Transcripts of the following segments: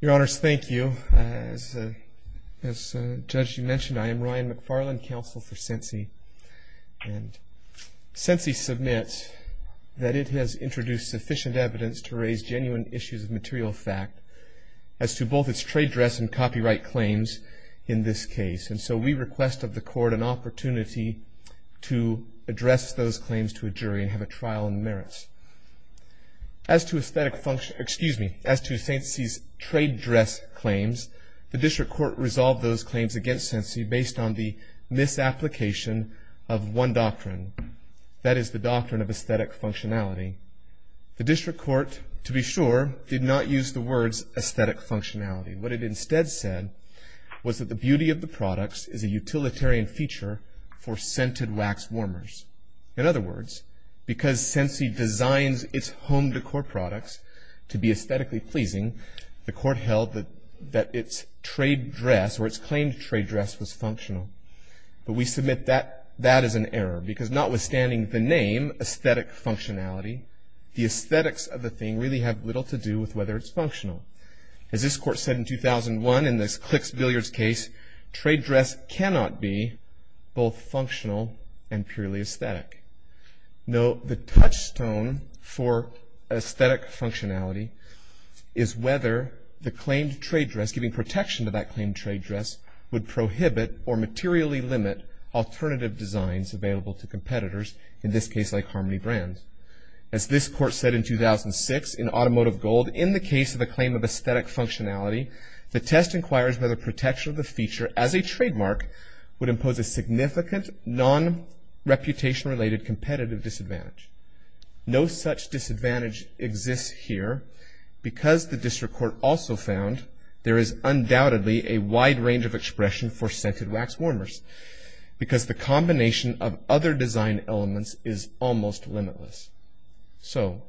Your Honors, thank you. As Judge, you mentioned, I am Ryan McFarland, counsel for Scentsy, and Scentsy submits that it has introduced sufficient evidence to raise genuine issues of material fact as to both its trade dress and copyright claims in this case, and so we request of the court an opportunity to address those claims to a jury and have a trial and merits. As to Scentsy's trade dress claims, the district court resolved those claims against Scentsy based on the misapplication of one doctrine, that is the doctrine of aesthetic functionality. The district court, to be sure, did not use the words aesthetic functionality. What it instead said was that the beauty of the products is a utilitarian feature for scented wax warmers. In other words, because Scentsy designs its home decor products to be aesthetically pleasing, the court held that its trade dress or its claimed trade dress was functional. But we submit that that is an error because notwithstanding the name aesthetic functionality, the aesthetics of the thing really have little to do with whether it's functional. As this court said in 2001 in this Klix-Billiards case, trade dress cannot be both functional and purely aesthetic. Note the touchstone for aesthetic functionality is whether the claimed trade dress, giving protection to that claimed trade dress, would prohibit or materially limit alternative designs available to competitors, in this case like Harmony Brands. As this court said in 2006 in Automotive Gold, in the case of the claim of aesthetic functionality, the test inquires whether protection of the feature as a trademark would impose a significant non-reputation related competitive disadvantage. No such disadvantage exists here because the district court also found there is undoubtedly a wide range of expression for scented wax warmers because the combination of other design elements is almost limitless. So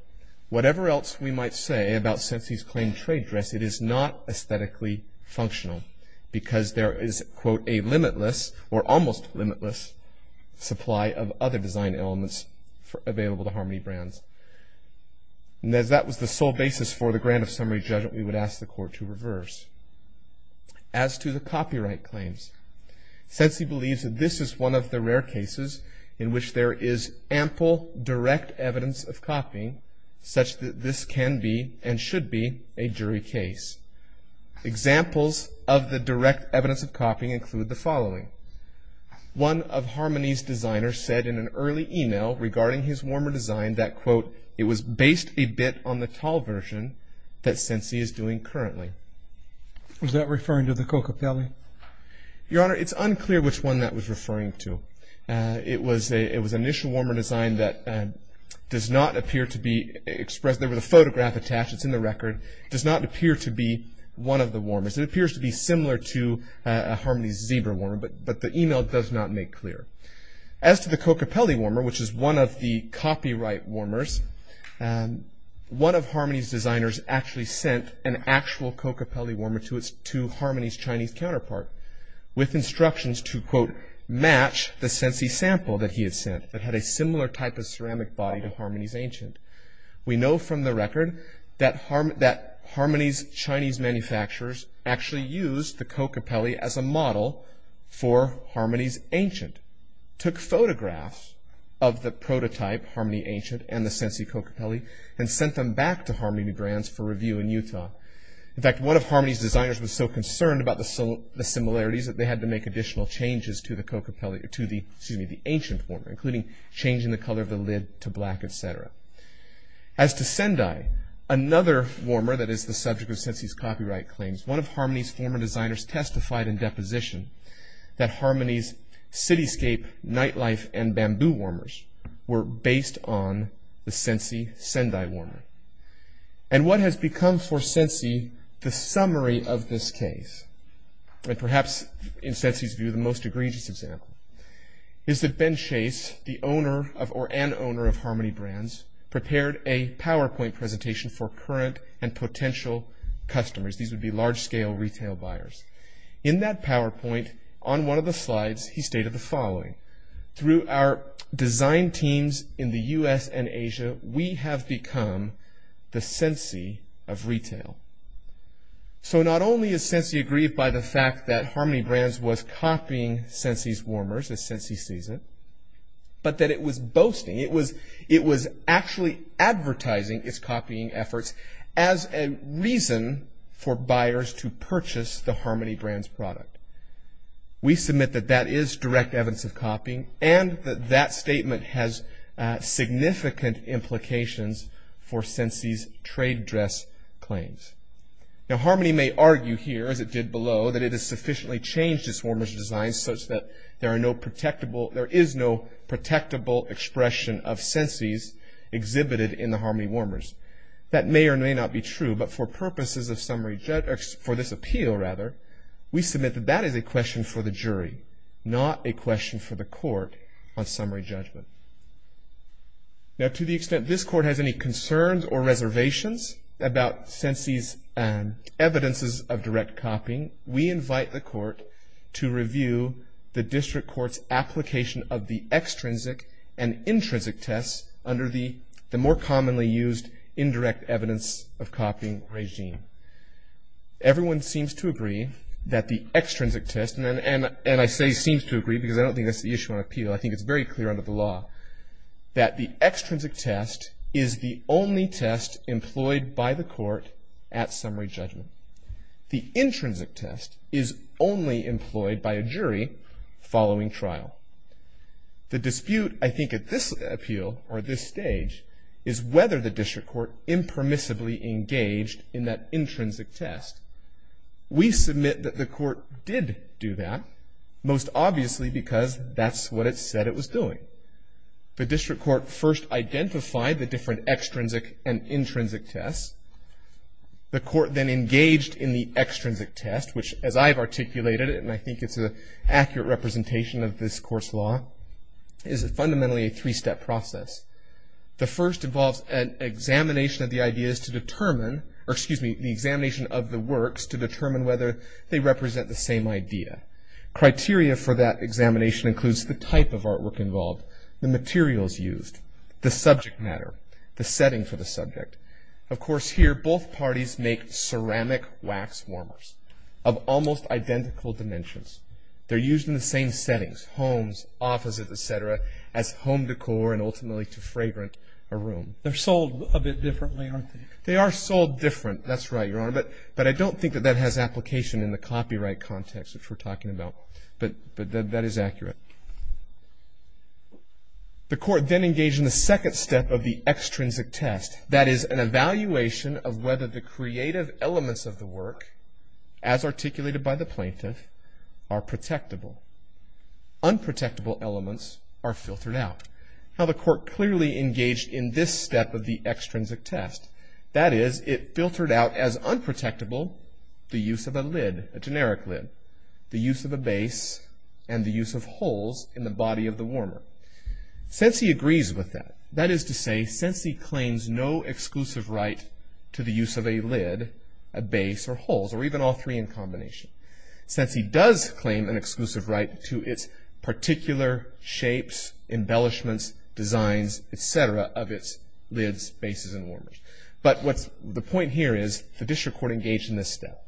whatever else we might say about Sensi's claimed trade dress, it is not aesthetically functional because there is, quote, a limitless or almost limitless supply of other design elements available to Harmony Brands. And as that was the sole basis for the grant of summary judgment, we would ask the court to reverse. As to the copyright claims, Sensi believes that this is one of the rare cases in which there is ample direct evidence of copying such that this can be and should be a jury case. Examples of the direct evidence of copying include the following. One of Harmony's designers said in an early email regarding his warmer design that, quote, it was based a bit on the tall version that Sensi is doing currently. Was that referring to the Coca-Cola? Your Honor, it's unclear which one that was referring to. It was an initial warmer design that does not appear to be expressed. There was a photograph attached. It's in the record. It does not appear to be one of the warmers. It appears to be similar to Harmony's Zebra Warmer, but the email does not make clear. As to the Coca-Cola Warmer, which is one of the copyright warmers, one of Harmony's designers actually sent an actual Coca-Cola Warmer to Harmony's Chinese counterpart with instructions to, quote, match the Sensi sample that he had sent that had a similar type of ceramic body to Harmony's ancient. We know from the record that Harmony's Chinese manufacturers actually used the Coca-Cola as a model for Harmony's ancient. Took photographs of the prototype Harmony ancient and the Sensi Coca-Cola and sent them back to Harmony Brands for review in Utah. In fact, one of Harmony's designers was so concerned about the similarities that they had to make additional changes to the ancient warmer, including changing the color of the lid to black, et cetera. As to Sendai, another warmer that is the subject of Sensi's copyright claims, one of Harmony's former designers testified in deposition that Harmony's cityscape nightlife and bamboo warmers were based on the Sensi Sendai Warmer. And what has become for Sensi the summary of this case, and perhaps in Sensi's view the most egregious example, is that Ben Chase, the owner or an owner of Harmony Brands, prepared a PowerPoint presentation for current and potential customers. These would be large-scale retail buyers. In that PowerPoint, on one of the slides, he stated the following. Through our design teams in the U.S. and Asia, we have become the Sensi of retail. So not only is Sensi aggrieved by the fact that Harmony Brands was copying Sensi's warmers, as Sensi sees it, but that it was boasting, it was actually advertising its copying efforts as a reason for buyers to purchase the Harmony Brands product. We submit that that is direct evidence of copying and that that statement has significant implications for Sensi's trade dress claims. Now Harmony may argue here, as it did below, that it has sufficiently changed its warmer's design such that there is no protectable expression of Sensi's exhibited in the Harmony warmers. That may or may not be true, but for purposes of summary, for this appeal rather, we submit that that is a question for the jury, not a question for the court on summary judgment. Now to the extent this court has any concerns or reservations about Sensi's evidences of direct copying, we invite the court to review the district court's application of the extrinsic and intrinsic tests under the more commonly used indirect evidence of copying regime. Everyone seems to agree that the extrinsic test, and I say seems to agree because I don't think that's the issue on appeal, I think it's very clear under the law, that the extrinsic test is the only test employed by the court at summary judgment. The intrinsic test is only employed by a jury following trial. The dispute I think at this appeal, or this stage, is whether the district court impermissibly engaged in that intrinsic test. We submit that the court did do that, most obviously because that's what it said it was doing. The district court first identified the different extrinsic and intrinsic tests. The court then engaged in the extrinsic test, which as I've articulated, and I think it's an accurate representation of this court's law, is fundamentally a three-step process. The first involves an examination of the ideas to determine, or excuse me, the examination of the works to determine whether they represent the same idea. Criteria for that examination includes the type of artwork involved, the materials used, the subject matter, the setting for the subject. Of course here both parties make ceramic wax warmers of almost identical dimensions. They're used in the same settings, homes, offices, et cetera, as home decor and ultimately to fragrant a room. They're sold a bit differently, aren't they? They are sold different. That's right, Your Honor, but I don't think that that has application in the copyright context, which we're talking about. But that is accurate. The court then engaged in the second step of the extrinsic test. That is an evaluation of whether the creative elements of the work, as articulated by the plaintiff, are protectable. Unprotectable elements are filtered out. Now the court clearly engaged in this step of the extrinsic test. That is, it filtered out as unprotectable the use of a lid, a generic lid, the use of a base, and the use of holes in the body of the warmer. Sensi agrees with that. That is to say, Sensi claims no exclusive right to the use of a lid, a base, or holes, or even all three in combination. Sensi does claim an exclusive right to its particular shapes, embellishments, designs, etc., of its lids, bases, and warmers. But the point here is the district court engaged in this step.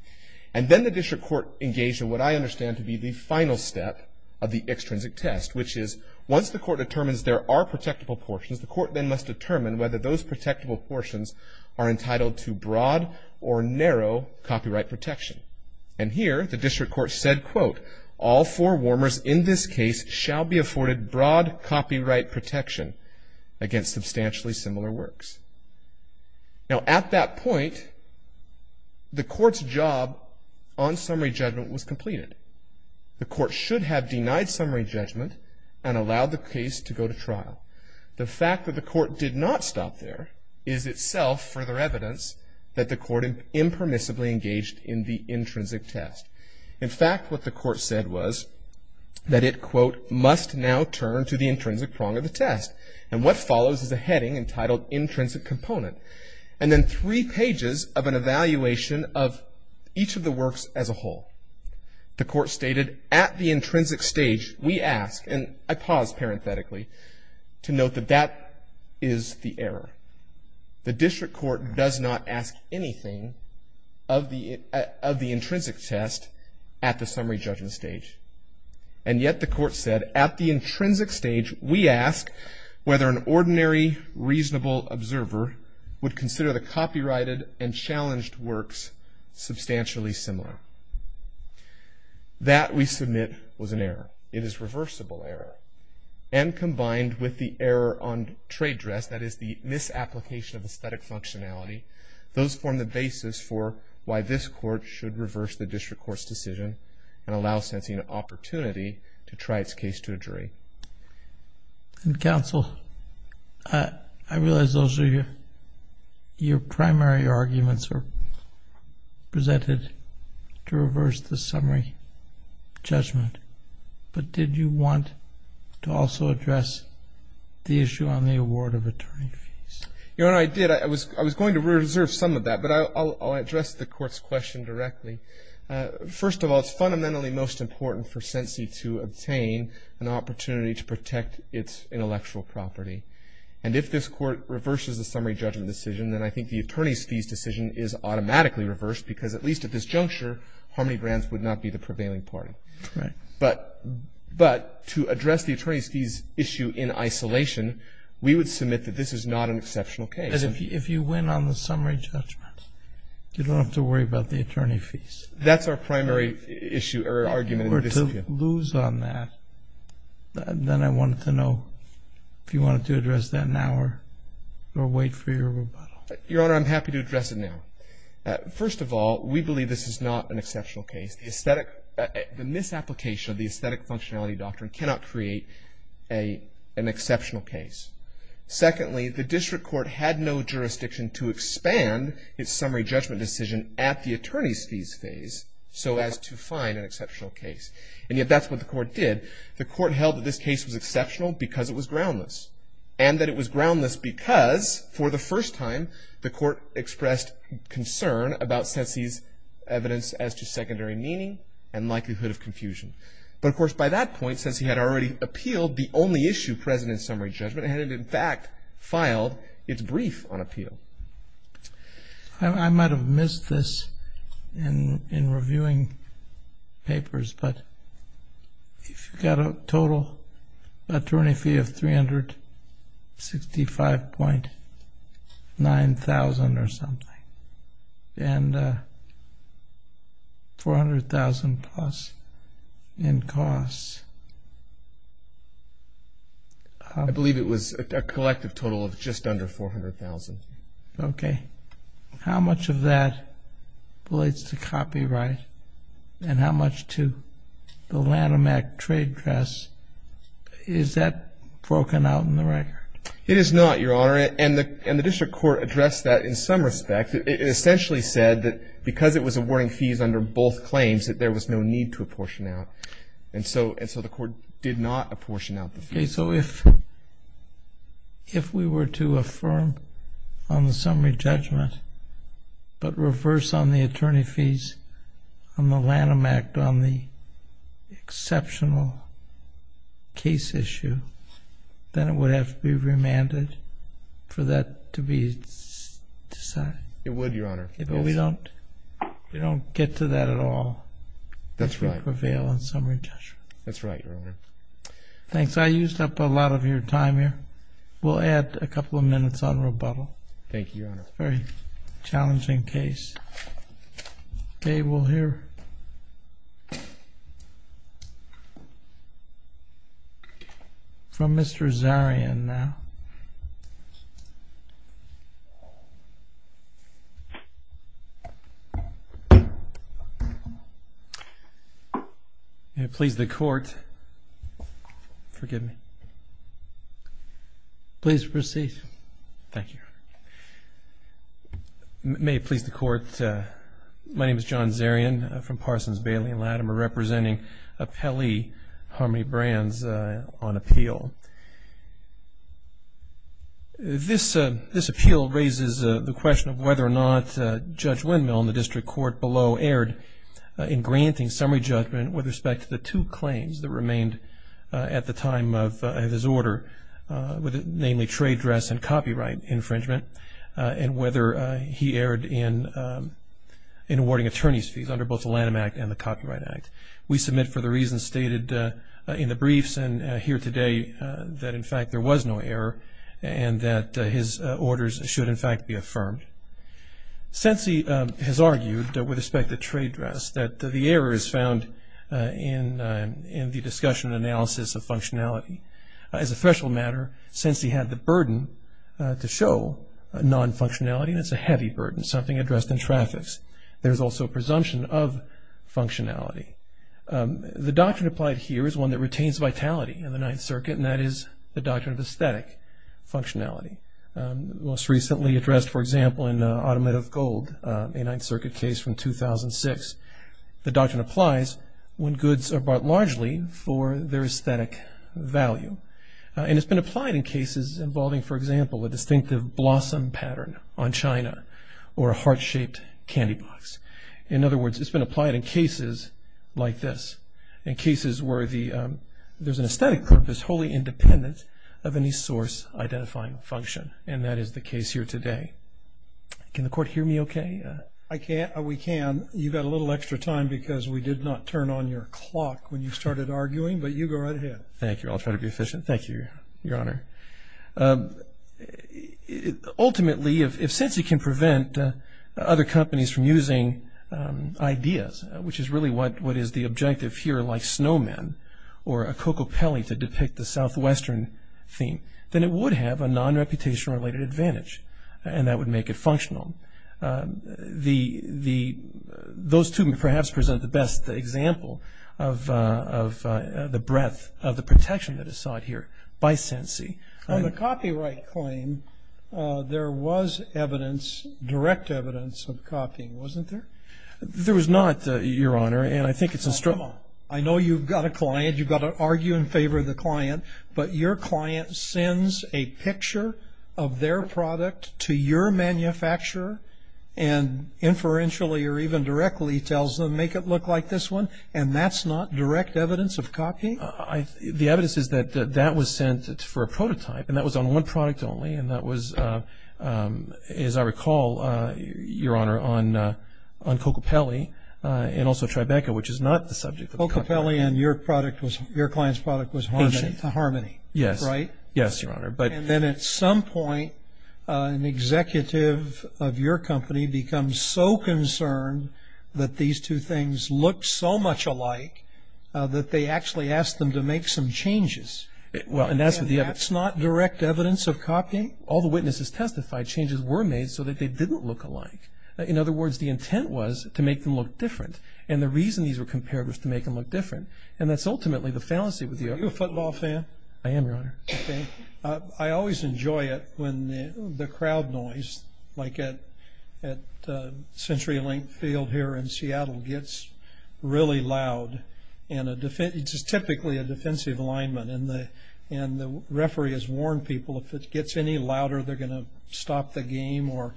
And then the district court engaged in what I understand to be the final step of the extrinsic test, which is once the court determines there are protectable portions, the court then must determine whether those protectable portions are entitled to broad or narrow copyright protection. And here the district court said, quote, all four warmers in this case shall be afforded broad copyright protection against substantially similar works. Now at that point, the court's job on summary judgment was completed. The court should have denied summary judgment and allowed the case to go to trial. The fact that the court did not stop there is itself further evidence that the court impermissibly engaged in the intrinsic test. In fact, what the court said was that it, quote, must now turn to the intrinsic prong of the test. And what follows is a heading entitled Intrinsic Component. And then three pages of an evaluation of each of the works as a whole. The court stated, at the intrinsic stage, we ask, and I pause parenthetically, to note that that is the error. The district court does not ask anything of the intrinsic test at the summary judgment stage. And yet the court said, at the intrinsic stage, we ask whether an ordinary reasonable observer would consider the copyrighted and challenged works substantially similar. That, we submit, was an error. It is reversible error. And combined with the error on trade dress, that is, the misapplication of aesthetic functionality, those form the basis for why this court should reverse the district court's decision And counsel, I realize those are your primary arguments presented to reverse the summary judgment. But did you want to also address the issue on the award of attorney fees? Your Honor, I did. I was going to reserve some of that, but I'll address the court's question directly. First of all, it's fundamentally most important for Sensee to obtain an opportunity to protect its intellectual property. And if this court reverses the summary judgment decision, then I think the attorney's fees decision is automatically reversed, because at least at this juncture, Harmony Brands would not be the prevailing party. But to address the attorney's fees issue in isolation, we would submit that this is not an exceptional case. If you win on the summary judgment, you don't have to worry about the attorney fees. That's our primary issue or argument. If you were to lose on that, then I wanted to know if you wanted to address that now or wait for your rebuttal. Your Honor, I'm happy to address it now. First of all, we believe this is not an exceptional case. The aesthetic, the misapplication of the aesthetic functionality doctrine cannot create an exceptional case. Secondly, the district court had no jurisdiction to expand its summary judgment decision at the attorney's fees phase so as to find an exceptional case. And yet that's what the court did. The court held that this case was exceptional because it was groundless. And that it was groundless because, for the first time, the court expressed concern about Sensee's evidence as to secondary meaning and likelihood of confusion. But, of course, by that point, Sensee had already appealed the only issue present in summary judgment and had, in fact, filed its brief on appeal. I might have missed this in reviewing papers, but if you've got a total attorney fee of $365,900 or something and $400,000 plus in costs. I believe it was a collective total of just under $400,000. Okay. How much of that relates to copyright and how much to the Lanham Act trade dress? Is that broken out in the record? It is not, Your Honor. And the district court addressed that in some respect. It essentially said that because it was awarding fees under both claims, that there was no need to apportion out. And so the court did not apportion out the fees. Okay. So if we were to affirm on the summary judgment but reverse on the attorney fees on the Lanham Act on the exceptional case issue, then it would have to be remanded for that to be decided. It would, Your Honor. But we don't get to that at all. That's right. If we prevail on summary judgment. That's right, Your Honor. Thanks. I used up a lot of your time here. We'll add a couple of minutes on rebuttal. Thank you, Your Honor. It's a very challenging case. Okay. We'll hear from Mr. Zarian now. May it please the court. Forgive me. Please proceed. Thank you, Your Honor. May it please the court. My name is John Zarian from Parsons, Bailey & Latimer, representing Pele Harmony Brands on appeal. This appeal raises the question of whether or not Judge Windmill in the district court below erred in granting summary judgment with respect to the two claims that remained at the time of his order, namely trade dress and copyright infringement, and whether he erred in awarding attorney's fees under both the Lanham Act and the Copyright Act. We submit for the reasons stated in the briefs and here today that, in fact, there was no error and that his orders should, in fact, be affirmed. Since he has argued with respect to trade dress that the error is found in the discussion and analysis of functionality. As a threshold matter, since he had the burden to show non-functionality, that's a heavy burden, something addressed in traffics. There's also a presumption of functionality. The doctrine applied here is one that retains vitality in the Ninth Circuit, and that is the doctrine of aesthetic functionality. Most recently addressed, for example, in Automotive Gold, a Ninth Circuit case from 2006. The doctrine applies when goods are bought largely for their aesthetic value. And it's been applied in cases involving, for example, a distinctive blossom pattern on china or a heart-shaped candy box. In other words, it's been applied in cases like this, in cases where there's an aesthetic purpose wholly independent of any source identifying function, and that is the case here today. Can the court hear me okay? I can't. We can. You've got a little extra time because we did not turn on your clock when you started arguing, but you go right ahead. Thank you. I'll try to be efficient. Thank you, Your Honor. Ultimately, since you can prevent other companies from using ideas, which is really what is the objective here like snowmen or a cocopelli to depict the southwestern theme, then it would have a non-reputation related advantage, and that would make it functional. Those two perhaps present the best example of the breadth of the protection that is sought here by CENCI. On the copyright claim, there was evidence, direct evidence of copying, wasn't there? There was not, Your Honor, and I think it's a struggle. I know you've got a client, you've got to argue in favor of the client, but your client sends a picture of their product to your manufacturer and inferentially or even directly tells them, make it look like this one, and that's not direct evidence of copying? The evidence is that that was sent for a prototype, and that was on one product only, and that was, as I recall, Your Honor, on cocopelli and also Tribeca, which is not the subject of the copy. And ultimately, your client's product was Harmony, right? Yes, Your Honor. And then at some point, an executive of your company becomes so concerned that these two things looked so much alike that they actually asked them to make some changes. And that's not direct evidence of copying? All the witnesses testified changes were made so that they didn't look alike. In other words, the intent was to make them look different, and the reason these were compared was to make them look different, and that's ultimately the fallacy with you. Are you a football fan? I am, Your Honor. Okay. I always enjoy it when the crowd noise, like at CenturyLink Field here in Seattle, gets really loud, and it's typically a defensive lineman, and the referee has warned people if it gets any louder, they're going to stop the game or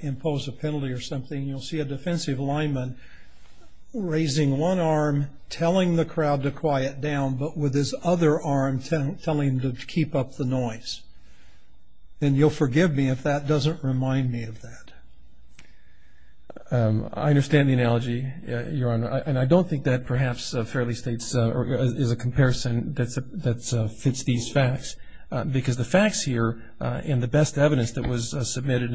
impose a penalty or something. And you'll see a defensive lineman raising one arm, telling the crowd to quiet down, but with his other arm telling them to keep up the noise. And you'll forgive me if that doesn't remind me of that. I understand the analogy, Your Honor. And I don't think that perhaps fairly states or is a comparison that fits these facts, because the facts here and the best evidence that was submitted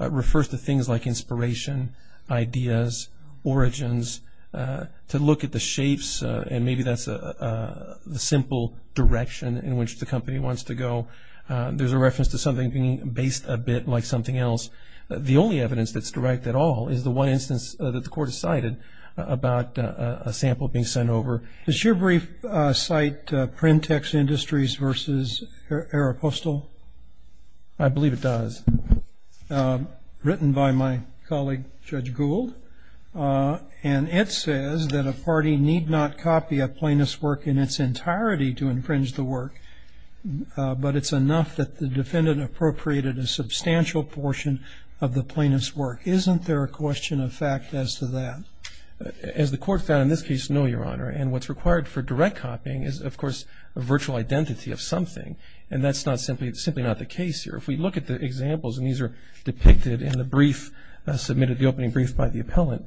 refers to things like inspiration, ideas, origins, to look at the shapes, and maybe that's the simple direction in which the company wants to go. There's a reference to something being based a bit like something else. The only evidence that's direct at all is the one instance that the Court has cited about a sample being sent over. Does your brief cite Printex Industries versus Aeropostal? I believe it does. Written by my colleague, Judge Gould. And it says that a party need not copy a plaintiff's work in its entirety to infringe the work, but it's enough that the defendant appropriated a substantial portion of the plaintiff's work. Isn't there a question of fact as to that? As the Court found in this case, no, Your Honor. And what's required for direct copying is, of course, a virtual identity of something. And that's simply not the case here. If we look at the examples, and these are depicted in the brief, submitted in the opening brief by the appellant,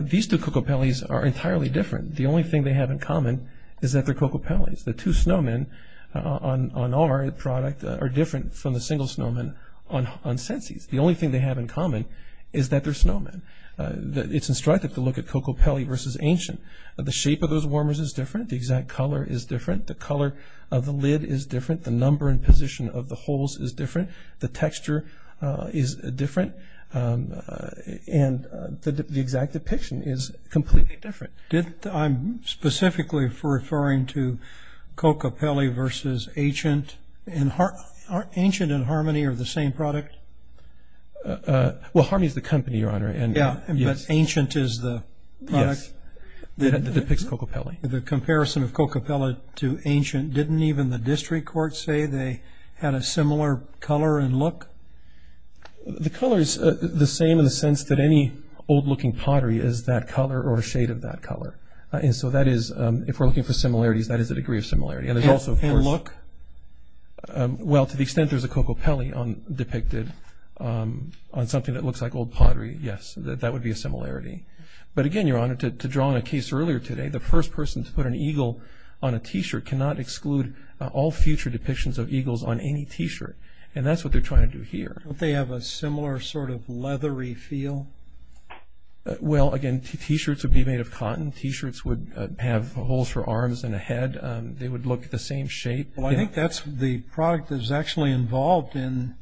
these two Cocopellis are entirely different. The only thing they have in common is that they're Cocopellis. The two snowmen on our product are different from the single snowmen on Sensi's. The only thing they have in common is that they're snowmen. It's instructive to look at Cocopelli versus Ancient. The shape of those warmers is different. The exact color is different. The color of the lid is different. The number and position of the holes is different. The texture is different. And the exact depiction is completely different. I'm specifically referring to Cocopelli versus Ancient. And Ancient and Harmony are the same product? Well, Harmony is the company, Your Honor. Yeah, but Ancient is the product that depicts Cocopelli. The comparison of Cocopelli to Ancient, didn't even the district court say they had a similar color and look? The color is the same in the sense that any old-looking pottery is that color or a shade of that color. And so that is, if we're looking for similarities, that is a degree of similarity. And look? Well, to the extent there's a Cocopelli depicted on something that looks like old pottery, yes, that would be a similarity. But, again, Your Honor, to draw on a case earlier today, the first person to put an eagle on a T-shirt cannot exclude all future depictions of eagles on any T-shirt. And that's what they're trying to do here. Don't they have a similar sort of leathery feel? Well, again, T-shirts would be made of cotton. T-shirts would have holes for arms and a head. They would look the same shape. Well, I think that's the product that was actually involved in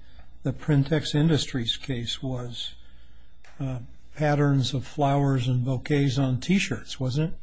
the Printex Industries case was patterns of flowers and bouquets on T-shirts, wasn't it?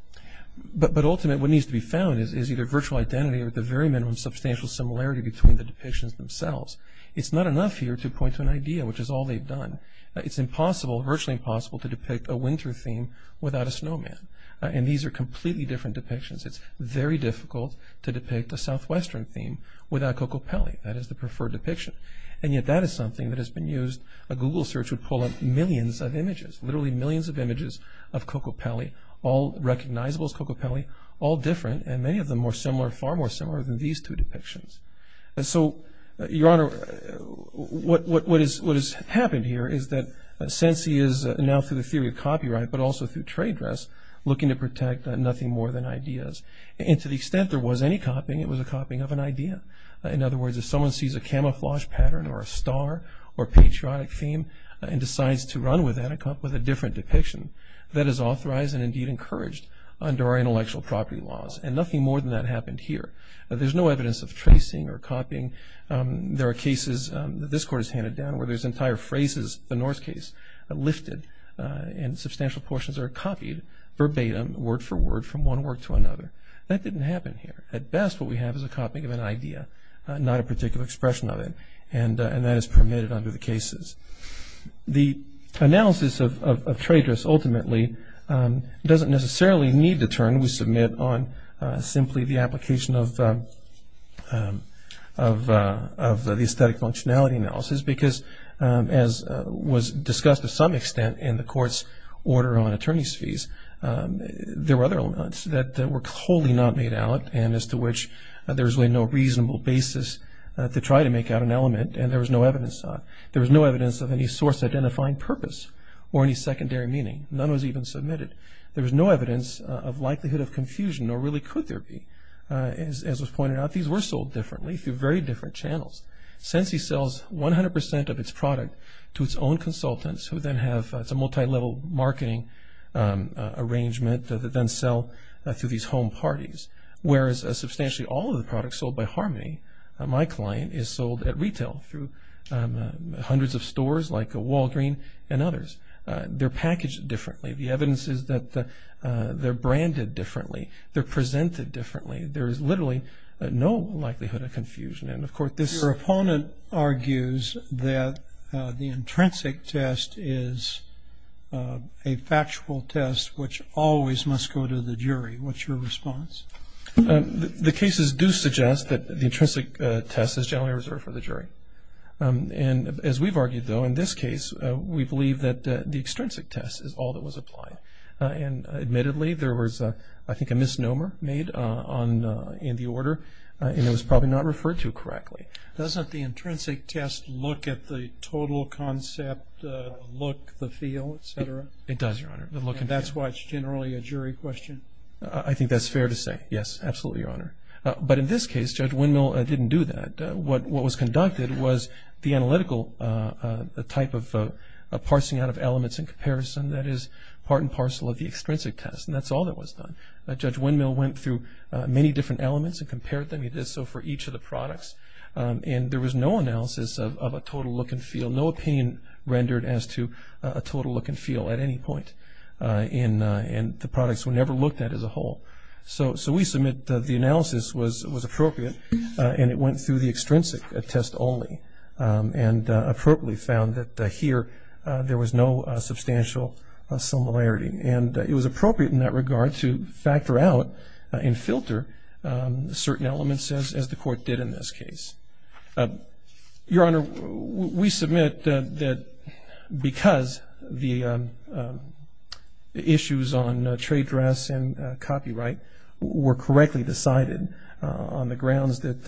But ultimately what needs to be found is either virtual identity or at the very minimum substantial similarity between the depictions themselves. It's not enough here to point to an idea, which is all they've done. It's impossible, virtually impossible, to depict a winter theme without a snowman. And these are completely different depictions. It's very difficult to depict a southwestern theme without Cocopelli. That is the preferred depiction. And yet that is something that has been used. A Google search would pull up millions of images, literally millions of images of Cocopelli, all recognizable as Cocopelli, all different and many of them more similar, far more similar than these two depictions. And so, Your Honor, what has happened here is that Sensi is now through the theory of copyright but also through trade dress looking to protect nothing more than ideas. And to the extent there was any copying, it was a copying of an idea. In other words, if someone sees a camouflage pattern or a star or a patriotic theme and decides to run with that and come up with a different depiction, that is authorized and indeed encouraged under our intellectual property laws. And nothing more than that happened here. There's no evidence of tracing or copying. There are cases that this Court has handed down where there's entire phrases, the North case, lifted and substantial portions are copied verbatim, word for word, from one work to another. That didn't happen here. At best, what we have is a copying of an idea, not a particular expression of it. And that is permitted under the cases. The analysis of trade dress ultimately doesn't necessarily need to turn. We submit on simply the application of the aesthetic functionality analysis because, as was discussed to some extent in the Court's order on attorney's fees, there were other elements that were wholly not made out and as to which there was really no reasonable basis to try to make out an element and there was no evidence of it. There was no evidence of any source identifying purpose or any secondary meaning. None was even submitted. There was no evidence of likelihood of confusion, nor really could there be. As was pointed out, these were sold differently through very different channels. Sensi sells 100% of its product to its own consultants who then have some multilevel marketing arrangement that then sell through these home parties, whereas substantially all of the products sold by Harmony, my client, is sold at retail through hundreds of stores like Walgreen's and others. They're packaged differently. The evidence is that they're branded differently. They're presented differently. There is literally no likelihood of confusion. Your opponent argues that the intrinsic test is a factual test which always must go to the jury. What's your response? The cases do suggest that the intrinsic test is generally reserved for the jury. As we've argued, though, in this case, we believe that the extrinsic test is all that was applied. Admittedly, there was, I think, a misnomer made in the order and it was probably not referred to correctly. Doesn't the intrinsic test look at the total concept, look, the feel, et cetera? It does, Your Honor. And that's why it's generally a jury question? I think that's fair to say, yes, absolutely, Your Honor. But in this case, Judge Windmill didn't do that. What was conducted was the analytical type of parsing out of elements and comparison that is part and parcel of the extrinsic test, and that's all that was done. Judge Windmill went through many different elements and compared them. He did so for each of the products. And there was no analysis of a total look and feel, no opinion rendered as to a total look and feel at any point. And the products were never looked at as a whole. So we submit that the analysis was appropriate, and it went through the extrinsic test only and appropriately found that here there was no substantial similarity. And it was appropriate in that regard to factor out and filter certain elements, as the Court did in this case. Your Honor, we submit that because the issues on trade dress and copyright were correctly decided on the grounds that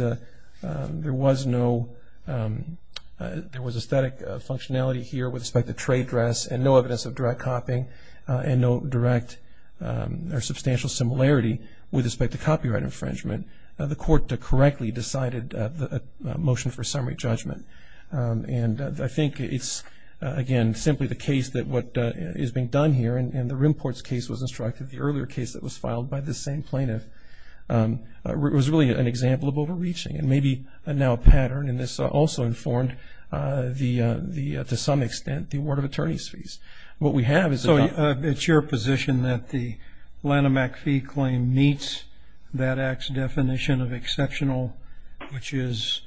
there was no – there was a static functionality here with respect to trade dress and no evidence of direct copying and no direct or substantial similarity with respect to copyright infringement. The Court correctly decided the motion for summary judgment. And I think it's, again, simply the case that what is being done here, and the Rimport's case was instructed, the earlier case that was filed by this same plaintiff, was really an example of overreaching and maybe now a pattern. And this also informed, to some extent, the award of attorney's fees. What we have is a – So it's your position that the Lanham-McPhee claim meets that act's definition of exceptional, which is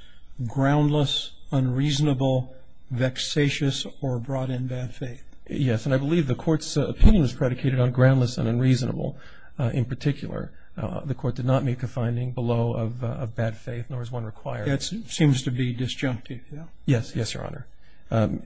groundless, unreasonable, vexatious, or brought in bad faith? Yes, and I believe the Court's opinion was predicated on groundless and unreasonable in particular. The Court did not make a finding below of bad faith, nor is one required. That seems to be disjunctive. Yes, Your Honor.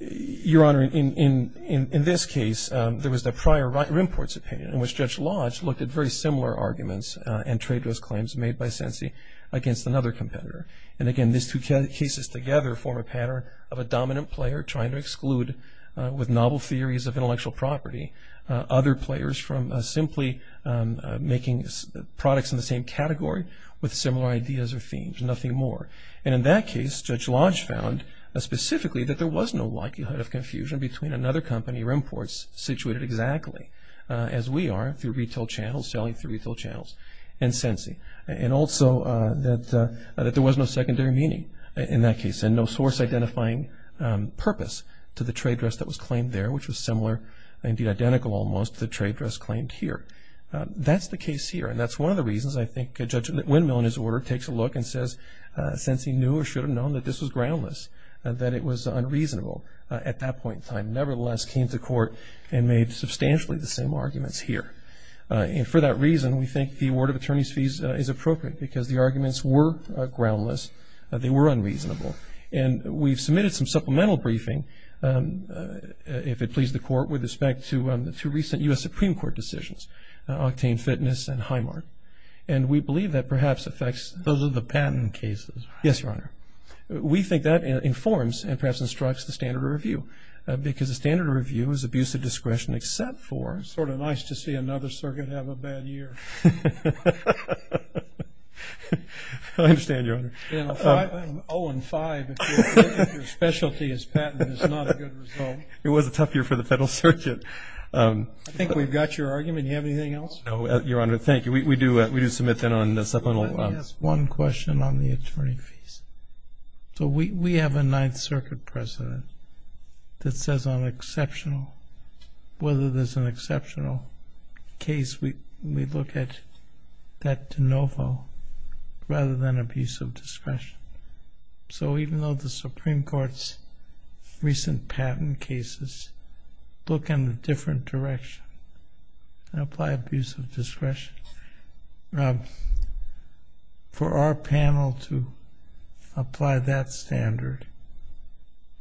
Your Honor, in this case, there was the prior Rimport's opinion, in which Judge Lodge looked at very similar arguments and trade dress claims made by Sensi against another competitor. And, again, these two cases together form a pattern of a dominant player trying to exclude, with novel theories of intellectual property, And in that case, Judge Lodge found specifically that there was no likelihood of confusion between another company, Rimport's, situated exactly as we are through retail channels, selling through retail channels, and Sensi. And also that there was no secondary meaning in that case and no source-identifying purpose to the trade dress that was claimed there, which was similar, indeed identical almost, to the trade dress claimed here. That's the case here, and that's one of the reasons I think Judge Windmill, in his order, takes a look and says Sensi knew or should have known that this was groundless, that it was unreasonable at that point in time, nevertheless came to court and made substantially the same arguments here. And for that reason, we think the award of attorney's fees is appropriate because the arguments were groundless, they were unreasonable. And we've submitted some supplemental briefing, if it pleases the Court, with respect to the two recent U.S. Supreme Court decisions, Octane Fitness and Highmark. And we believe that perhaps affects the patent cases. Yes, Your Honor. We think that informs and perhaps instructs the standard of review because the standard of review is abuse of discretion except for... It's sort of nice to see another circuit have a bad year. I understand, Your Honor. 0 and 5, if your specialty is patent, it's not a good result. It was a tough year for the Federal Circuit. I think we've got your argument. Do you have anything else? No, Your Honor. Thank you. We do submit then on the supplemental... I have one question on the attorney fees. So we have a Ninth Circuit precedent that says on exceptional, whether there's an exceptional case, we look at that de novo rather than abuse of discretion. So even though the Supreme Court's recent patent cases look in a different direction and apply abuse of discretion, for our panel to apply that standard,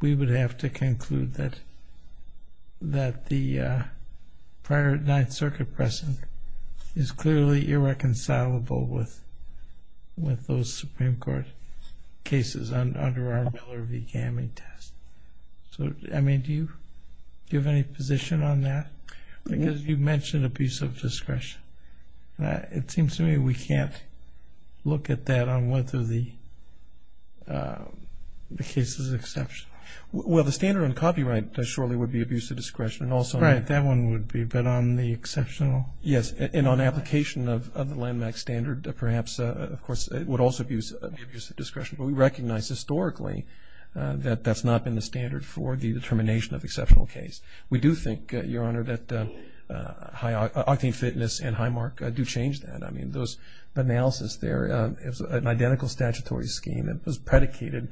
we would have to conclude that the prior Ninth Circuit precedent is clearly irreconcilable with those Supreme Court cases under our Miller v. Gamming test. So, Emmy, do you have any position on that? Because you mentioned abuse of discretion. It seems to me we can't look at that on whether the case is exceptional. Well, the standard on copyright surely would be abuse of discretion. Right, that one would be, but on the exceptional... Yes, and on application of the Landmax standard, perhaps, of course, it would also be abuse of discretion. But we recognize historically that that's not been the standard for the determination of exceptional case. We do think, Your Honor, that Octane Fitness and Highmark do change that. I mean, the analysis there is an identical statutory scheme that was predicated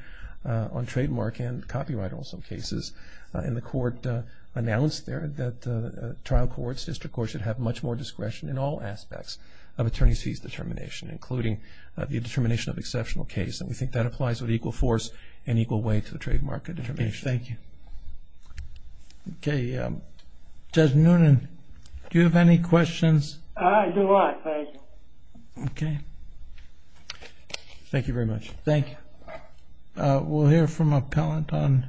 on trademark and copyright on some cases. And the Court announced there that trial courts, district courts, should have much more discretion in all aspects of attorney's fees determination, including the determination of exceptional case. And we think that applies with equal force and equal weight to the trademark determination. Thank you. Okay, Judge Noonan, do you have any questions? I do not, thank you. Okay. Thank you very much. Thank you. We'll hear from appellant on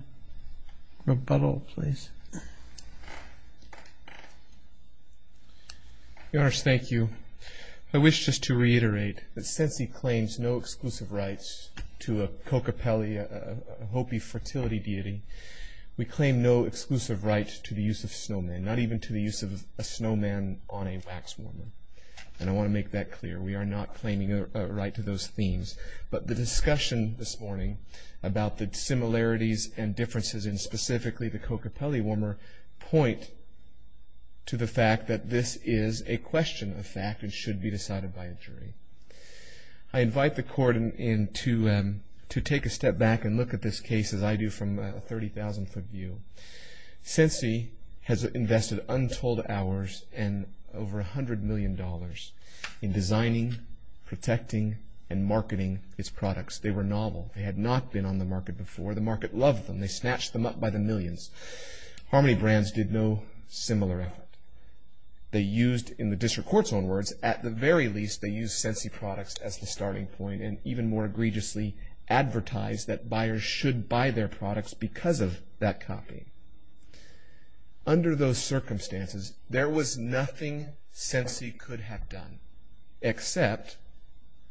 rebuttal, please. Your Honor, thank you. I wish just to reiterate that since he claims no exclusive rights to a cocapella, a Hopi fertility deity, we claim no exclusive rights to the use of snowmen, not even to the use of a snowman on a wax woman. And I want to make that clear. We are not claiming a right to those themes. But the discussion this morning about the similarities and differences in specifically the cocapella warmer point to the fact that this is a question of fact and should be decided by a jury. I invite the court to take a step back and look at this case as I do from a 30,000-foot view. Sensi has invested untold hours and over $100 million in designing, protecting, and marketing its products. They were novel. They had not been on the market before. The market loved them. They snatched them up by the millions. Harmony Brands did no similar effort. They used, in the district court's own words, at the very least, they used Sensi products as the starting point and even more egregiously advertised that buyers should buy their products because of that copy. Under those circumstances, there was nothing Sensi could have done except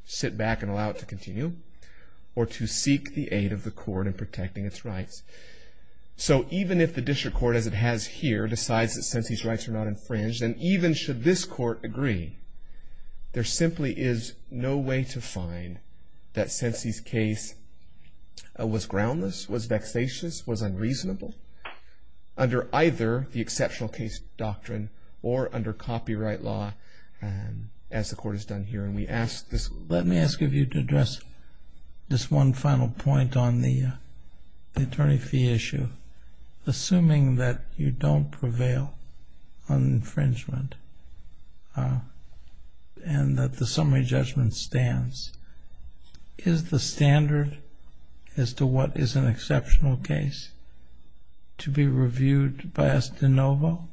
sit back and allow it to continue or to seek the aid of the court in protecting its rights. So even if the district court, as it has here, decides that Sensi's rights are not infringed, and even should this court agree, there simply is no way to find that Sensi's case was groundless, was vexatious, was unreasonable under either the exceptional case doctrine or under copyright law as the court has done here. Let me ask of you to address this one final point on the attorney fee issue. Assuming that you don't prevail on infringement and that the summary judgment stands, is the standard as to what is an exceptional case to be reviewed by us de novo,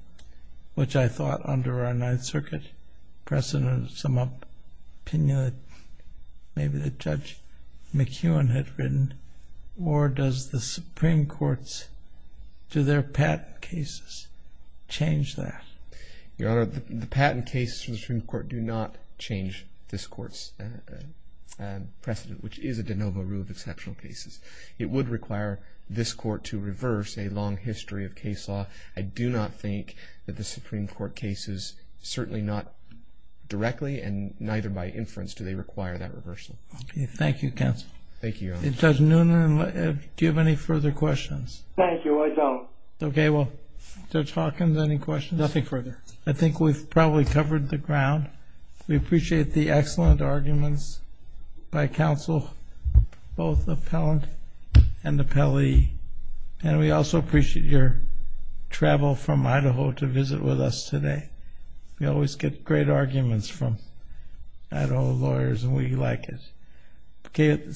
which I thought under our Ninth Circuit precedent sum up opinion that maybe the Judge McEwen had written, or does the Supreme Court's, do their patent cases change that? Your Honor, the patent cases from the Supreme Court do not change this Court's precedent, which is a de novo rule of exceptional cases. It would require this Court to reverse a long history of case law. I do not think that the Supreme Court cases, certainly not directly and neither by inference, do they require that reversal. Okay. Thank you, counsel. Thank you, Your Honor. Judge Noonan, do you have any further questions? Thank you. I don't. Okay. Well, Judge Hawkins, any questions? Nothing further. I think we've probably covered the ground. We appreciate the excellent arguments by counsel, both appellant and appellee, and we also appreciate your travel from Idaho to visit with us today. We always get great arguments from Idaho lawyers and we like it. Okay.